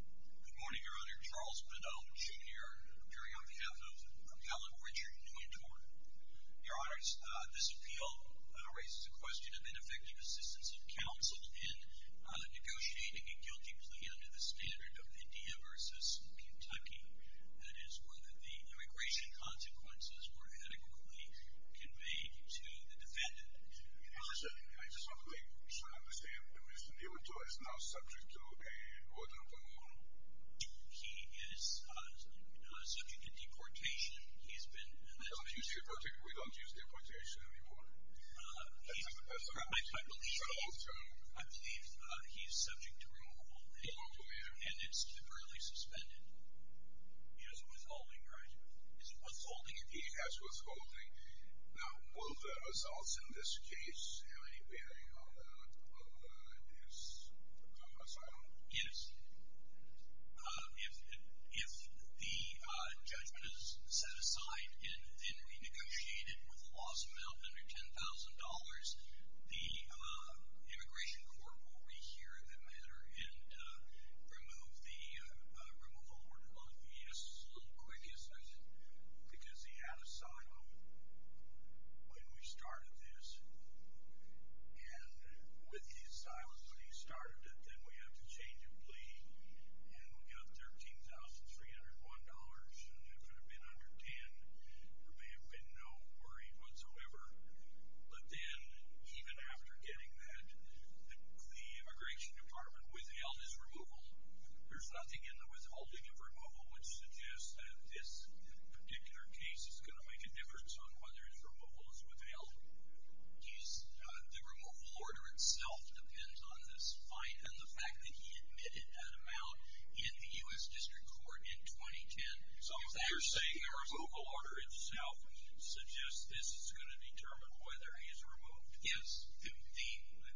Good morning, Your Honor. Charles McDonald, Jr. appearing on behalf of Calum Richard Nuwintore. Your Honor, this appeal raises the question of ineffective assistance of counsel in negotiating a guilty plea under the standard of India v. Kentucky. That is, whether the immigration consequences were adequately conveyed to the defendant. Your Honor, I just want to make sure I understand. Mr. Nuwintore is now He is subject to deportation. We don't use deportation anymore. I believe he's subject to removal and it's temporarily suspended. He has withholding, right? Is it withholding? He has withholding. Now, will the results in this case have any bearing on his asylum? Yes. If the judgment is set aside and renegotiated with a loss amount under $10,000, the immigration court will rehear the matter and remove the removal order. A little quick, because he had asylum when we started this. And with his asylum when we started it, then we had to change a plea and we got $13,301 and if it had been under $10,000, there may have been no worry whatsoever. But then, even after getting that, the immigration department withheld his removal. There's nothing in the withholding of removal which suggests that this particular case is going to make a difference on whether his removal is withheld. The removal order itself depends on this fine and the fact that he admitted that amount in the U.S. District Court in 2010. So you're saying the removal order itself suggests this is going to determine whether he's removed? Yes.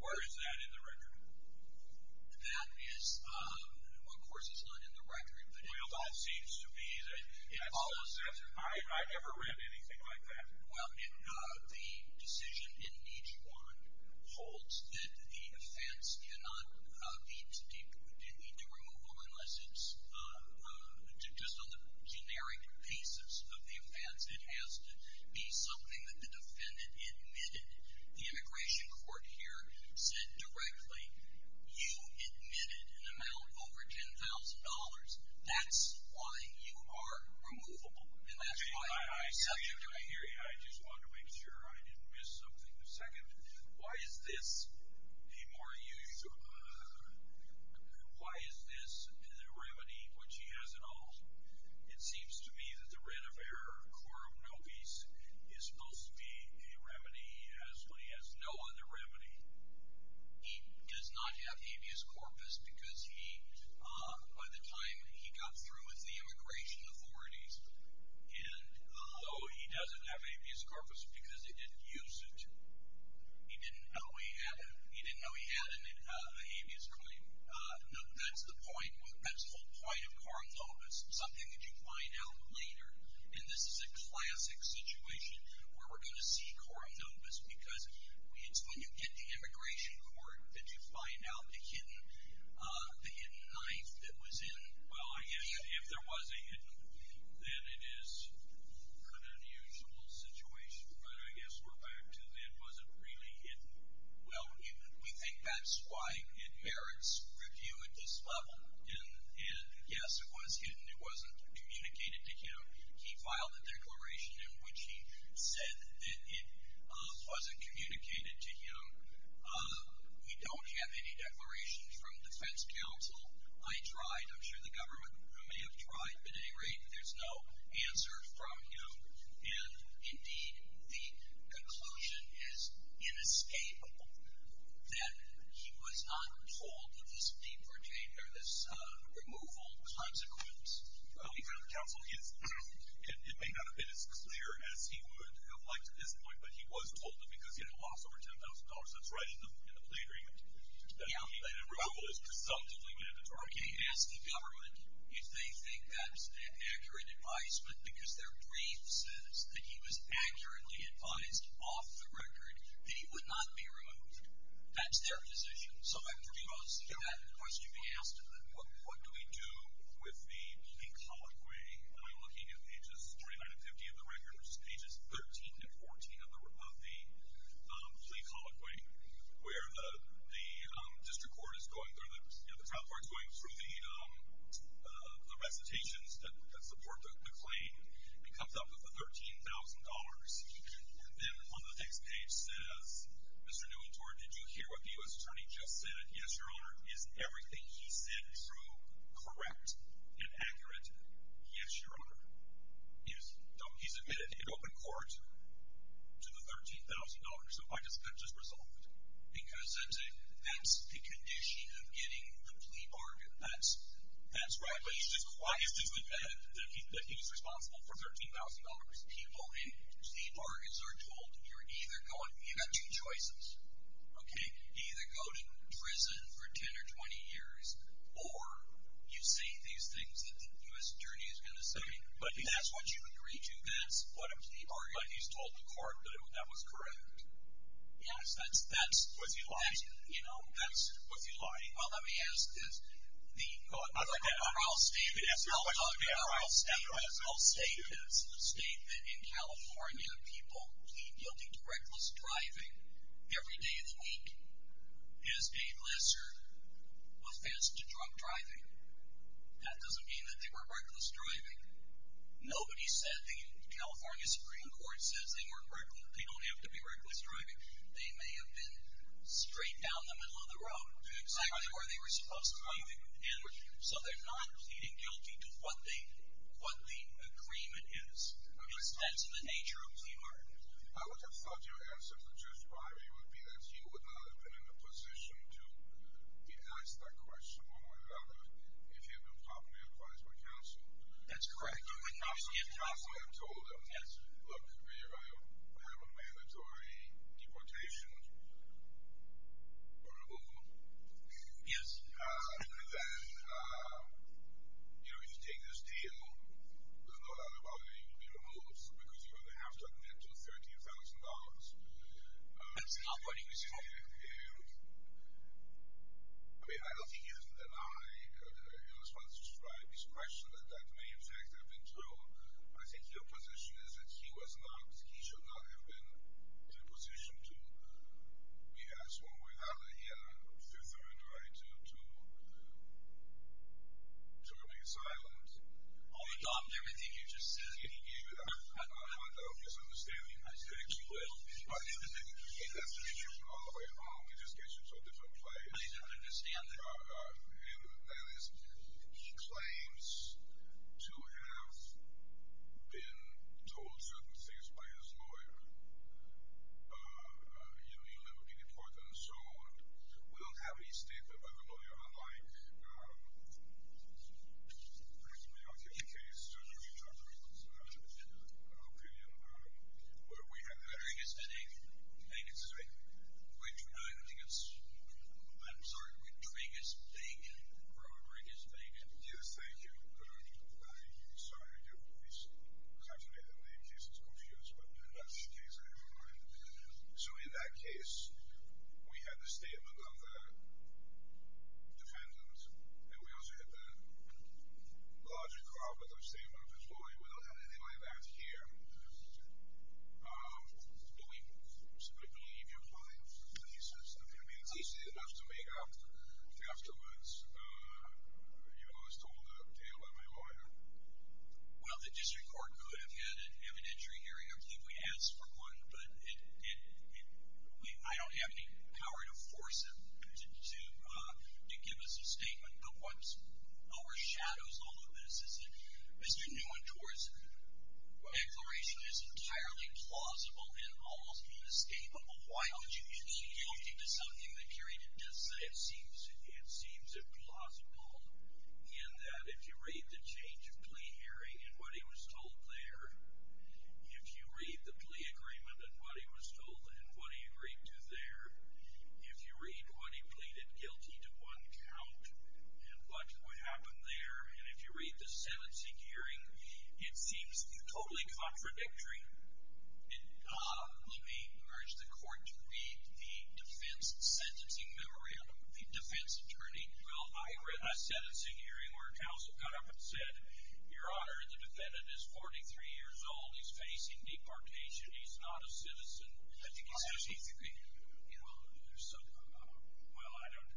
Where is that in the record? That is, of course it's not in the record. Well, that seems to me that it follows that. I never read anything like that. Well, the decision in each one holds that the offense cannot need to remove him unless it's just on the generic pieces of the offense. It has to be something that the defendant admitted. The immigration court here said directly, you admitted an amount of over $10,000. That's why you are removable. I just want to make sure I didn't miss something. Why is this the remedy which he has in all? It seems to me that the red of error, core of no peace, is supposed to be a remedy as when he has no other remedy. He does not have habeas corpus because by the time he got through with the immigration authorities and although he doesn't have habeas corpus because they didn't use it, he didn't know he had a habeas claim. That's the point. That's the whole point of core of no peace. Something that you find out later and this is a classic situation where we're going to see core of no peace because it's when you get to immigration court that you find out the hidden knife that was in... Well, I guess if there was a hidden knife, then it is an unusual situation, but I guess we're back to it wasn't really hidden. Well, we think that's why it merits review at this level. Yes, it was hidden. It wasn't communicated to him. He filed a declaration in which he said that it wasn't communicated to him. We don't have any declarations from defense counsel. I tried. I'm sure the government may have tried, but at any rate there's no answer from him and indeed the conclusion is inescapable that he was not told of this removal consequence. The counsel, it may not have been as clear as he would have liked at this point, but he was told of it because he had a loss over $10,000. That's right in the plea agreement. That he had a removal that's presumptively mandatory. Okay, ask the government if they think that's an accurate advisement because their brief says that he was accurately advised off the record that he would not be removed. That's their decision. So I'm curious if that's a question you can ask them. What do we do with the colloquy? Are we looking at pages 29 and 50 of the record or are we looking at pages 13 and 14 of the plea colloquy where the district court is going through the recitations that support the claim and comes up with the $13,000 and then on the next page says, Mr. Nuentor, did you hear what the U.S. Attorney just said? Yes, Your Honor. Is everything he said true, correct, and accurate? Yes, Your Honor. He's admitted in open court to the $13,000. So that's just resolved. Because that's the condition of getting the plea bargain. That's right. But he's just quietly admitted that he was responsible for $13,000. People in plea bargains are told you're either going, you've got two choices. Okay, either go to prison for 10 or 20 years or you say these things that the U.S. Attorney is going to say. But that's what you agreed to. That's what a plea bargain is. But he's told the court that that was correct. Yes, that's what you lied to. You know, that's what you lied to. Well, let me ask this. The trial statement... The trial statement in California, people pleading guilty to reckless driving every day of the week is paid lesser offense to drunk driving. That doesn't mean that they were reckless driving. Nobody said, the California Supreme Court says they don't have to be reckless driving. They may have been straight down the middle of the road exactly where they were supposed to be. So they're not pleading guilty to what the agreement is. That's the nature of a plea bargain. I would have thought your answer to Judge Breyer would be that you would not have been in a position to recognize that question, if you had been properly advised by counsel. That's correct. Counsel had told him, look, I have a mandatory deportation or removal. Yes. Then, you know, if you take this deal there's no doubt about it, you're going to be removed because you're going to have to admit to $13,000. That's not what he was told. I mean, I don't think he was denied in response to Judge Breyer's question that that may in fact have been true. I think your position is that he was not, he should not have been in a position to be asked one way or the other if he had the right to remain silent. Oh, he dropped everything you just said. I don't have an obvious understanding. I mean, he has to meet you all the way home. He just gets you to a different place. I don't understand that. He claims to have been told certain things by his lawyer in the liberty department, so we don't have any statement by the lawyer. I mean, I'll give you a case. I'll give you an opinion. Rodriguez-Dagan. I'm sorry, Rodriguez-Dagan. Rodriguez-Dagan. Yes, thank you. So in that case, we had the statement of the defendant and we also had the logic of the statement of his lawyer. We don't have any of that here. Do we simply believe you're lying? I mean, it's easy enough to make up afterwards. You were told that by my lawyer. Well, the district court could have had an evidentiary hearing. I believe we asked for one, but I don't have any power to force him to give us a statement. But what overshadows all of this is that Mr. Neuendorf's declaration is entirely plausible and almost inescapable. Why would you plead guilty to something that Kerry did not say? It seems implausible in that if you read the change of plea hearing and what he was told there, if you read the plea agreement and what he was told and what he agreed to there, if you read what he pleaded guilty to one count and what would happen there and if you read the sentencing hearing, it seems totally contradictory. Let me urge the court to read the defense sentencing memory of the defense attorney. Well, I read that sentencing hearing where a counsel got up and said your honor, the defendant is 43 years old. He's facing departure. He's not a citizen. Well, I don't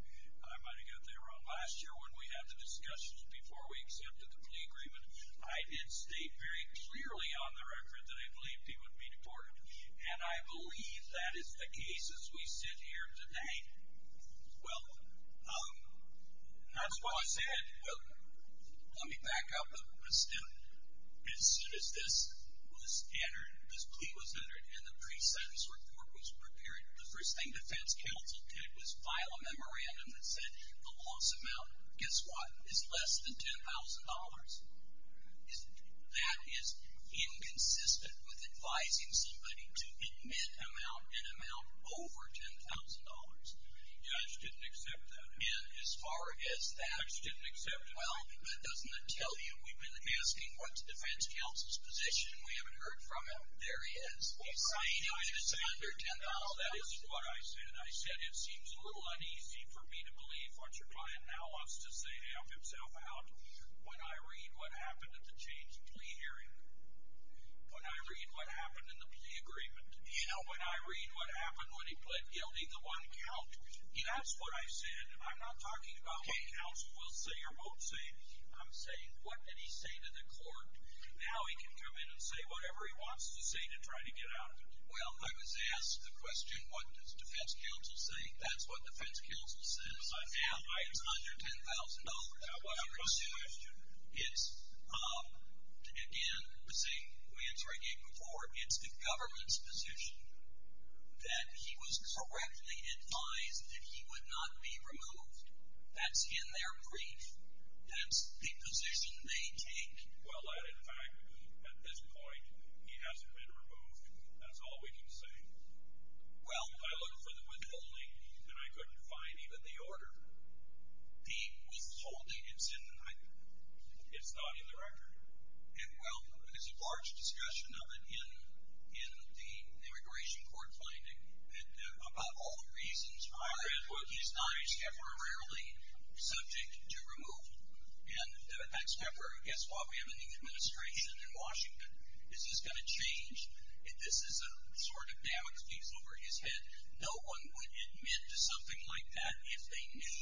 I might have got that wrong. Last year when we had the discussions before we accepted the plea agreement, I did state very clearly on the record that I believed he would be deported. And I believe that is the case as we sit here tonight. Well, that's why I said, let me back up but still, as soon as this was entered this plea was entered and the pre-sentence report was prepared, the first thing defense counsel did was file a memorandum that said the loss amount guess what, is less than $10,000. That is inconsistent with advising somebody to admit an amount over $10,000. The judge didn't accept that. And as far as that, well, that doesn't tell you. We've been asking what's defense counsel's position. We haven't heard from him. There he is. He's saying it's under $10,000. That is what I said. I said it seems a little uneasy for me to believe what your client now wants to say to help himself out. When I read what happened at the change of plea hearing when I read what happened in the plea agreement, when I read what happened when he pled guilty to one count, that's what I said. I'm not talking about what counsel will say or won't say. I'm saying what did he say to the court? Now he can come in and say whatever he wants to say to try to get out of it. Well, I was asked the question, what does defense counsel say? That's what defense counsel said. It's under $10,000. That wasn't a question. Again, we answered it before. It's the government's position that he was correctly advised that he would not be removed. That's in their brief. That's the position they take. Well, in fact, at this point, he hasn't been removed. That's all we can say. Well, I looked for the withholding, and I couldn't find even the order. The withholding is in the record. It's not in the record. Well, there's a large discussion of it in the immigration court finding about all the reasons why he's not temporarily subject to removal. And, in fact, Schaeffer, guess what? We have a new administration in Washington. This is going to change if this is a sort of balance piece over his head. No one would admit to something like that if they knew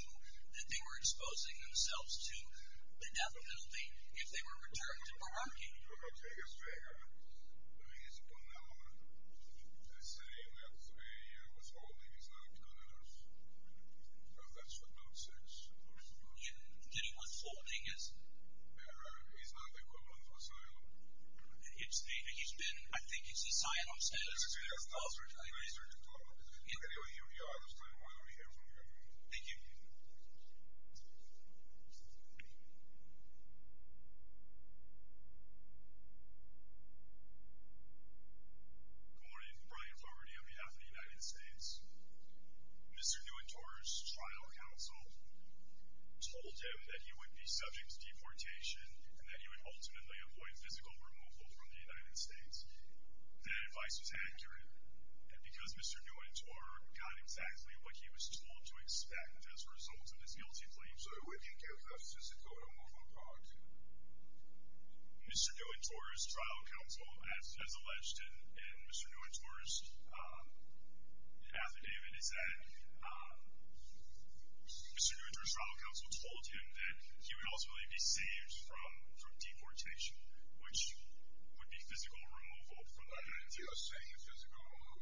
that they were exposing themselves to the death penalty, if they were returned to Bararki. I mean, he's a phenomenal person. He has a withholding. He's not going to lose. But that's for nonsense. Do you know what withholding is? Bararki is not the equivalent of asylum. He's been, I think, he's a Zionist. He's a Zionist. Thank you. Good morning. Good morning. Brian Fogarty on behalf of the United States. Mr. Nuentor's trial counsel told him that he would be subject to deportation and that he would ultimately avoid physical removal from the United States. That advice was accurate. And because Mr. Nuentor got exactly what he was told to expect as a result of his guilty plea, Mr. Nuentor's trial counsel has alleged in Mr. Nuentor's affidavit is that Mr. Nuentor's trial counsel told him that he would ultimately be saved from deportation, which would be physical removal from the United States. What you're saying is physical removal.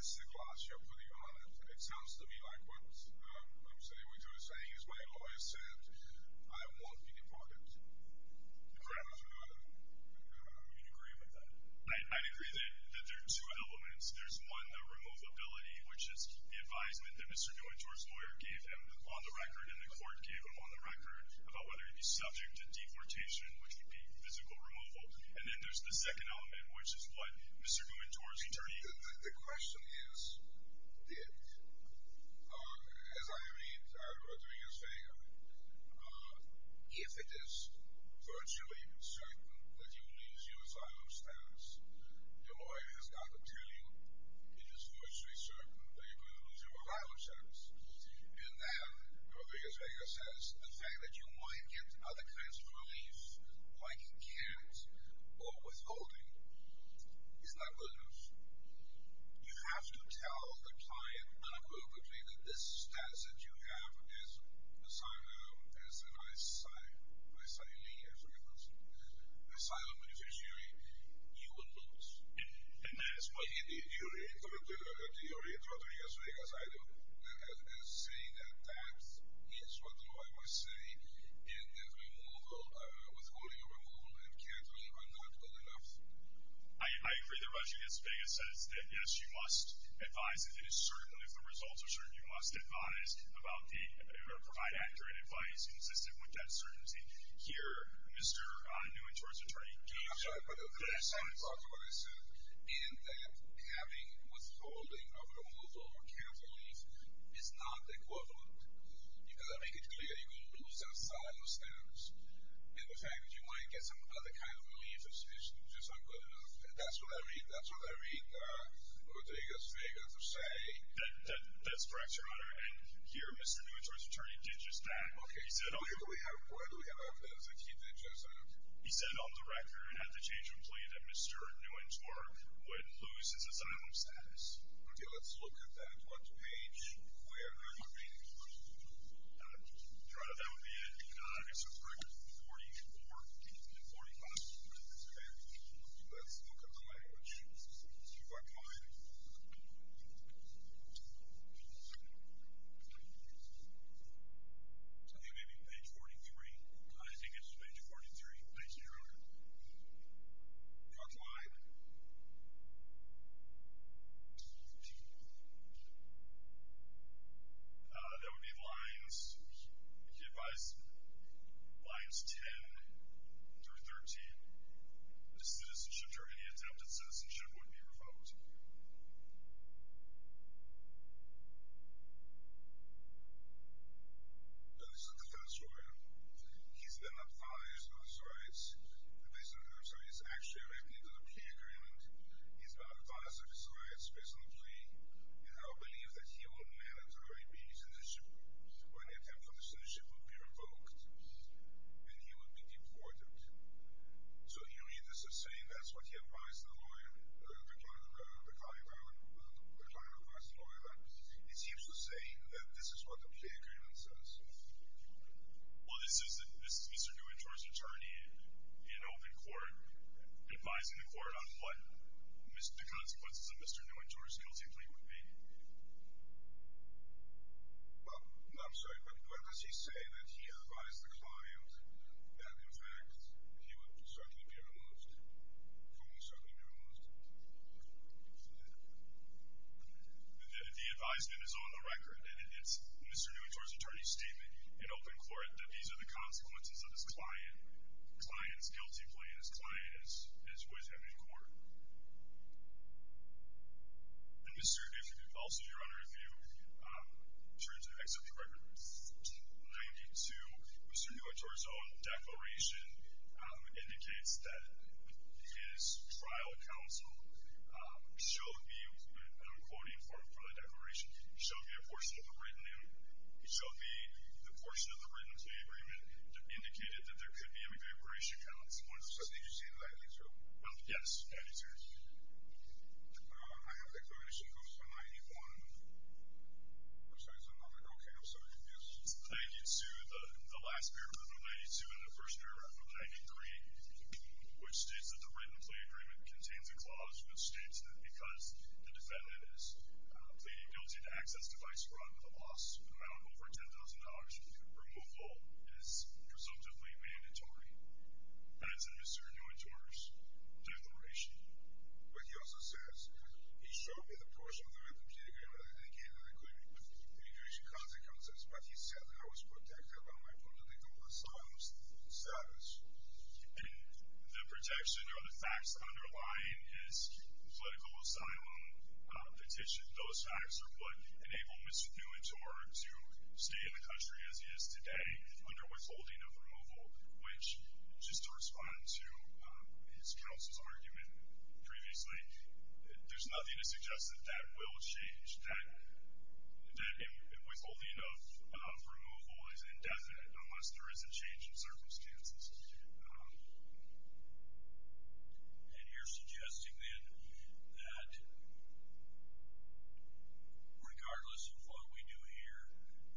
This is a gloss you're putting on it. It sounds to me like what I'm saying. What you're saying is my lawyer said I won't be deported. Do you agree with that? I agree that there are two elements. There's one, the removability, which is the advisement that Mr. Nuentor's lawyer gave him on the record and the court gave him on the record about whether he'd be subject to physical removal. And then there's the second element, which is what Mr. Nuentor's attorney The question is, Dick, as I read out of Rodriguez-Vega, if it is virtually certain that you lose your asylum status, your lawyer has gotten a feeling it is virtually certain that you're going to lose your asylum status. In that, Rodriguez-Vega says, the fact that you might get other kinds of deportations or withholding is not good news. You have to tell the client unequivocally that this status that you have as an asylum beneficiary, you will lose. And that is what he did. You read Rodriguez-Vega's item and saying that that is what the lawyer might say in the removal, withholding of removal and cancelling are not good enough. I agree that Rodriguez-Vega says that, yes, you must advise if it is certain, if the results are certain, you must advise about the provide accurate advice consistent with that certainty. Here, Mr. Nuentor's attorney came to the point in that having withholding of removal or cancelling is not equivalent. You've got to make it clear you will lose that asylum status. And the fact that you might get some other kind of relief is just not good enough. And that's what I read Rodriguez-Vega to say. That's correct, Your Honor. And here, Mr. Nuentor's attorney did just that. Where do we have evidence that he did just that? He said on the record and at the change of plea that Mr. Nuentor would lose his asylum status. Let's look at that. What page? Let's look at page 44. Let's look at the language. I think it may be page 43. I think it's page 43. Thank you, Your Honor. That would be lines lines 10 through 13. Citizenship or any attempted citizenship would be revoked. Now, this is a defense lawyer. He's been advised of his rights. He's actually written into the plea agreement. He's been advised of his rights based on the plea. And I believe that he will manitoree being citizenship or any attempted citizenship would be revoked. And he would be deported. So you read this as saying that's what he advised the lawyer, the client advised the lawyer that it seems to say that this is what the plea agreement says. Well, this is Mr. Nuentor's attorney in open court advising the court on what Mr. Nuentor's guilty plea would be. I'm sorry, but when does he say that he advised the client that in fact he would certainly be removed? Who would certainly be removed? The advisement is on the record and it's Mr. Nuentor's attorney's statement in open court that these are the consequences of his client's guilty plea and his client is with him in court. Also, Your Honor, if you turn to the next of the records, page 92, Mr. Nuentor's own declaration indicates that his trial counsel shall be, and I'm quoting from the declaration, shall be a portion of the written plea agreement indicated that there could be an evaporation counsel. I think you're saying page 92. Yes, page 92. My own declaration goes to page 91. I'm sorry, is that another? Okay, I'm so confused. Page 92, the last paragraph of page 92 and the first paragraph of page 3, which states that the written plea agreement contains a clause which states that because the defendant is pleading guilty to access to vice fraud with a loss of an amount of over $10,000, removal is presumptively mandatory. That is in Mr. Nuentor's declaration. But he also says he shall be the portion of the written plea agreement indicated that there could be a loss of an amount of over $10,000, removal is presumptively mandatory. That is in Mr. Nuentor's declaration. But he also says he shall be the portion of the written plea agreement indicated that there could be a loss of an amount of over $10,000, removal is presumptively mandatory. That is in Mr. Nuentor's declaration. But he also says removal is indefinite unless there is a change in circumstances. And you're suggesting then that regardless of what we do here,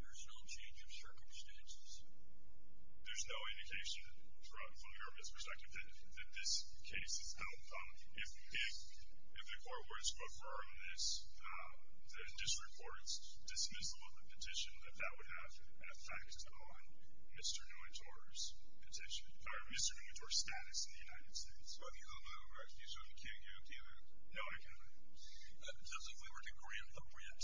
there's no change of circumstances? There's no indication from the government's perspective that this case is held. If the court were to affirm this, the district court dismissal of the petition, that that would have an effect on Mr. Nuentor's petition, or Mr. Nuentor's status in the United States. Do you agree with that? Just if we were to grant a grant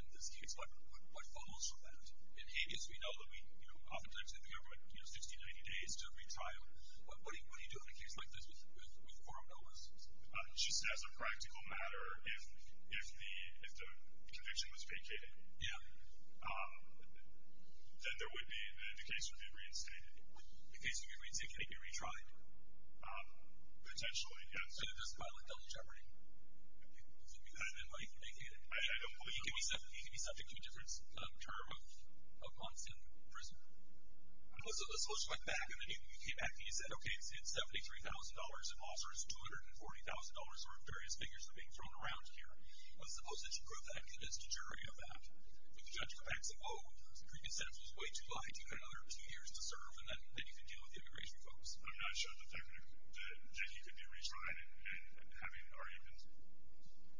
in this case, what follows from that? In Hades, we know that we, you know, oftentimes in the government, you know, 60 to 90 days to retire. What do you do in a case like this with forum novices? Just as a practical matter, if the conviction was vacated, then there would be the case would be reinstated. The case would be reinstated? Could it be retried? Potentially, yes. Could it just violate felony jeopardy? You could have been, like, vacated. I don't believe so. He could be subject to a different term of months in prison. A solicitor went back, and then he came back and he said, okay, I see it's $73,000, and also it's $240,000 worth of various figures that are being thrown around here. I suppose that you could have acted as the jury of that. If the judge comes back and says, oh, the preconception is way too high, you've got another two years to serve, and then you can deal with the immigration folks. I'm not sure that you could do retrying and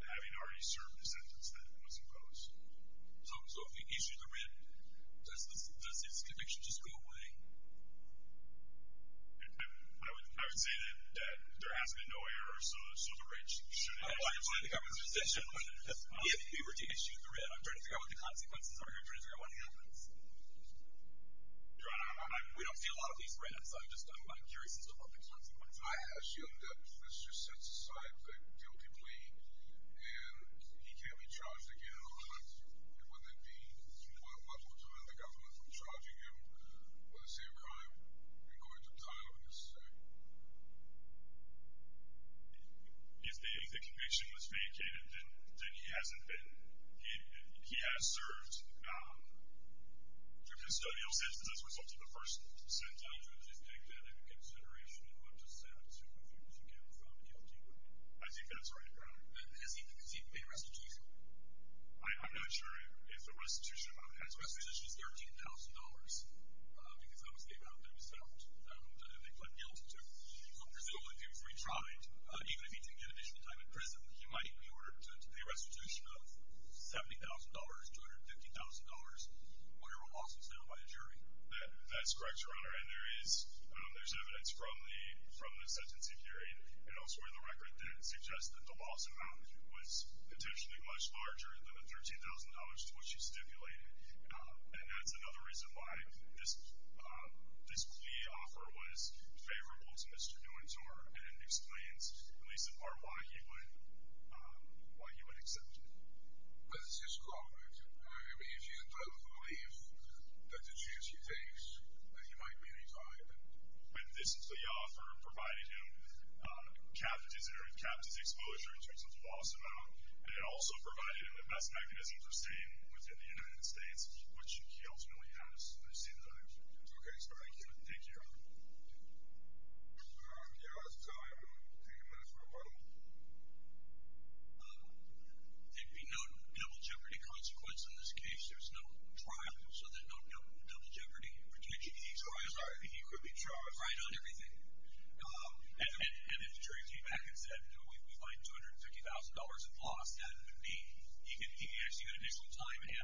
having already served the sentence that was imposed. So if you issue the writ, does his conviction just go away? I would say that there has been no error, so the writ shouldn't have been violated. If you were to issue the writ, I'm trying to figure out what the consequences are. I'm trying to figure out what happens. We don't see a lot of these writs. I'm just curious as to what the consequences are. I assume that this just sets aside the guilty plea, and he can't be charged again in a month. Would that be what would prevent the government from charging him at the same time in going to trial in this state? If the conviction was vacated, then he hasn't been he has served the custodial sentence as a result of the first sentence. I think that's right. Has he received a restitution? I'm not sure if the restitution on his restitution is $13,000, because that was given out to him himself, and they pled guilt to him. So presumably, if he was retried, even if he didn't get additional time in prison, he might be ordered to pay a restitution of $70,000, $250,000, or it will also be settled by the jury. That's correct, Your Honor. There's evidence from the sentencing period and elsewhere in the record that suggests that the loss amount was potentially much larger than the $13,000 to which he stipulated, and that's another reason why this plea offer was favorable to Mr. Nuentor, and it explains, at least in part, why he would accept it. But it's just a comment. I mean, if you both believe that the jury thinks that he might be retried, then... And this plea offer provided him captive exposure to his loss amount, and it also provided him the best mechanism to stay within the United States, which he ultimately has, at the same time. Thank you, Your Honor. We'll take a minute for a bundle. There'd be no double jeopardy consequence in this case. There's no trial, so there's no double jeopardy. He could be tried on everything. And if the jury came back and said, you know, we find $250,000 of loss, that would mean he could actually get additional time. And he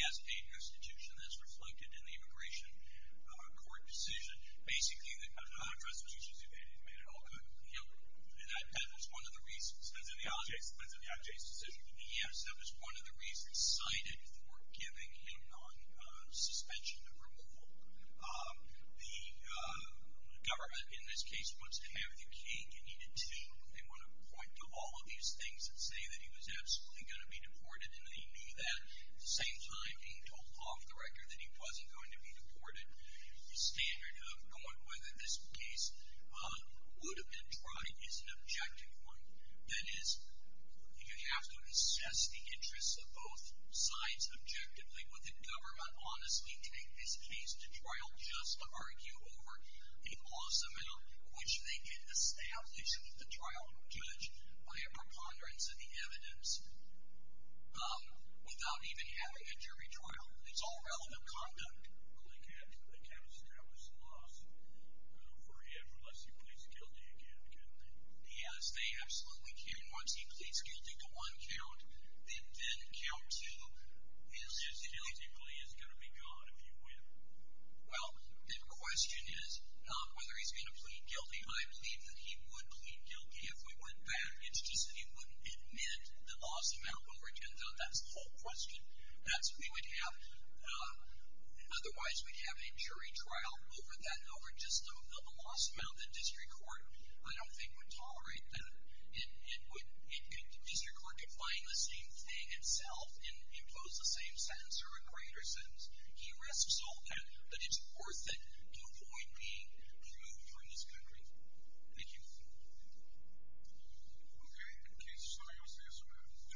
has a restitution that's reflected in the immigration court decision. Basically, there are other restitutions he could have made, and that was one of the reasons. It was one of the reasons cited for giving him non-suspension of removal. The government, in this case, wants to have you king. You need a team. They want to point to all of these things that say that he was absolutely going to be deported, and they knew that. At the same time, he told law director that he wasn't going to be deported. The standard of going with this case would have been tried is an objective one. That is, you have to assess the interests of both sides objectively. Would the government honestly take this case to trial just to argue over a clause amount, which they can establish at the trial judge by a preponderance of the evidence without even having a jury trial? It's all relevant conduct. But they can't establish a loss for him unless he pleads guilty again, can they? Yes, they absolutely can. Once he pleads guilty to one count, then count two, he illegitimately is going to be gone if you win. Well, the question is not whether he's going to plead guilty. I believe that he would plead guilty if we went back. It's just that he wouldn't admit the loss amount over 10,000. That's the whole question. Otherwise, we'd have a jury trial over just the loss amount that district court, I don't think, would tolerate. District court defying the same thing itself and impose the same sentence or a greater sentence. He risks all counts, but it's worth it to a point being proved for his country. Thank you. Okay. Thank you so much.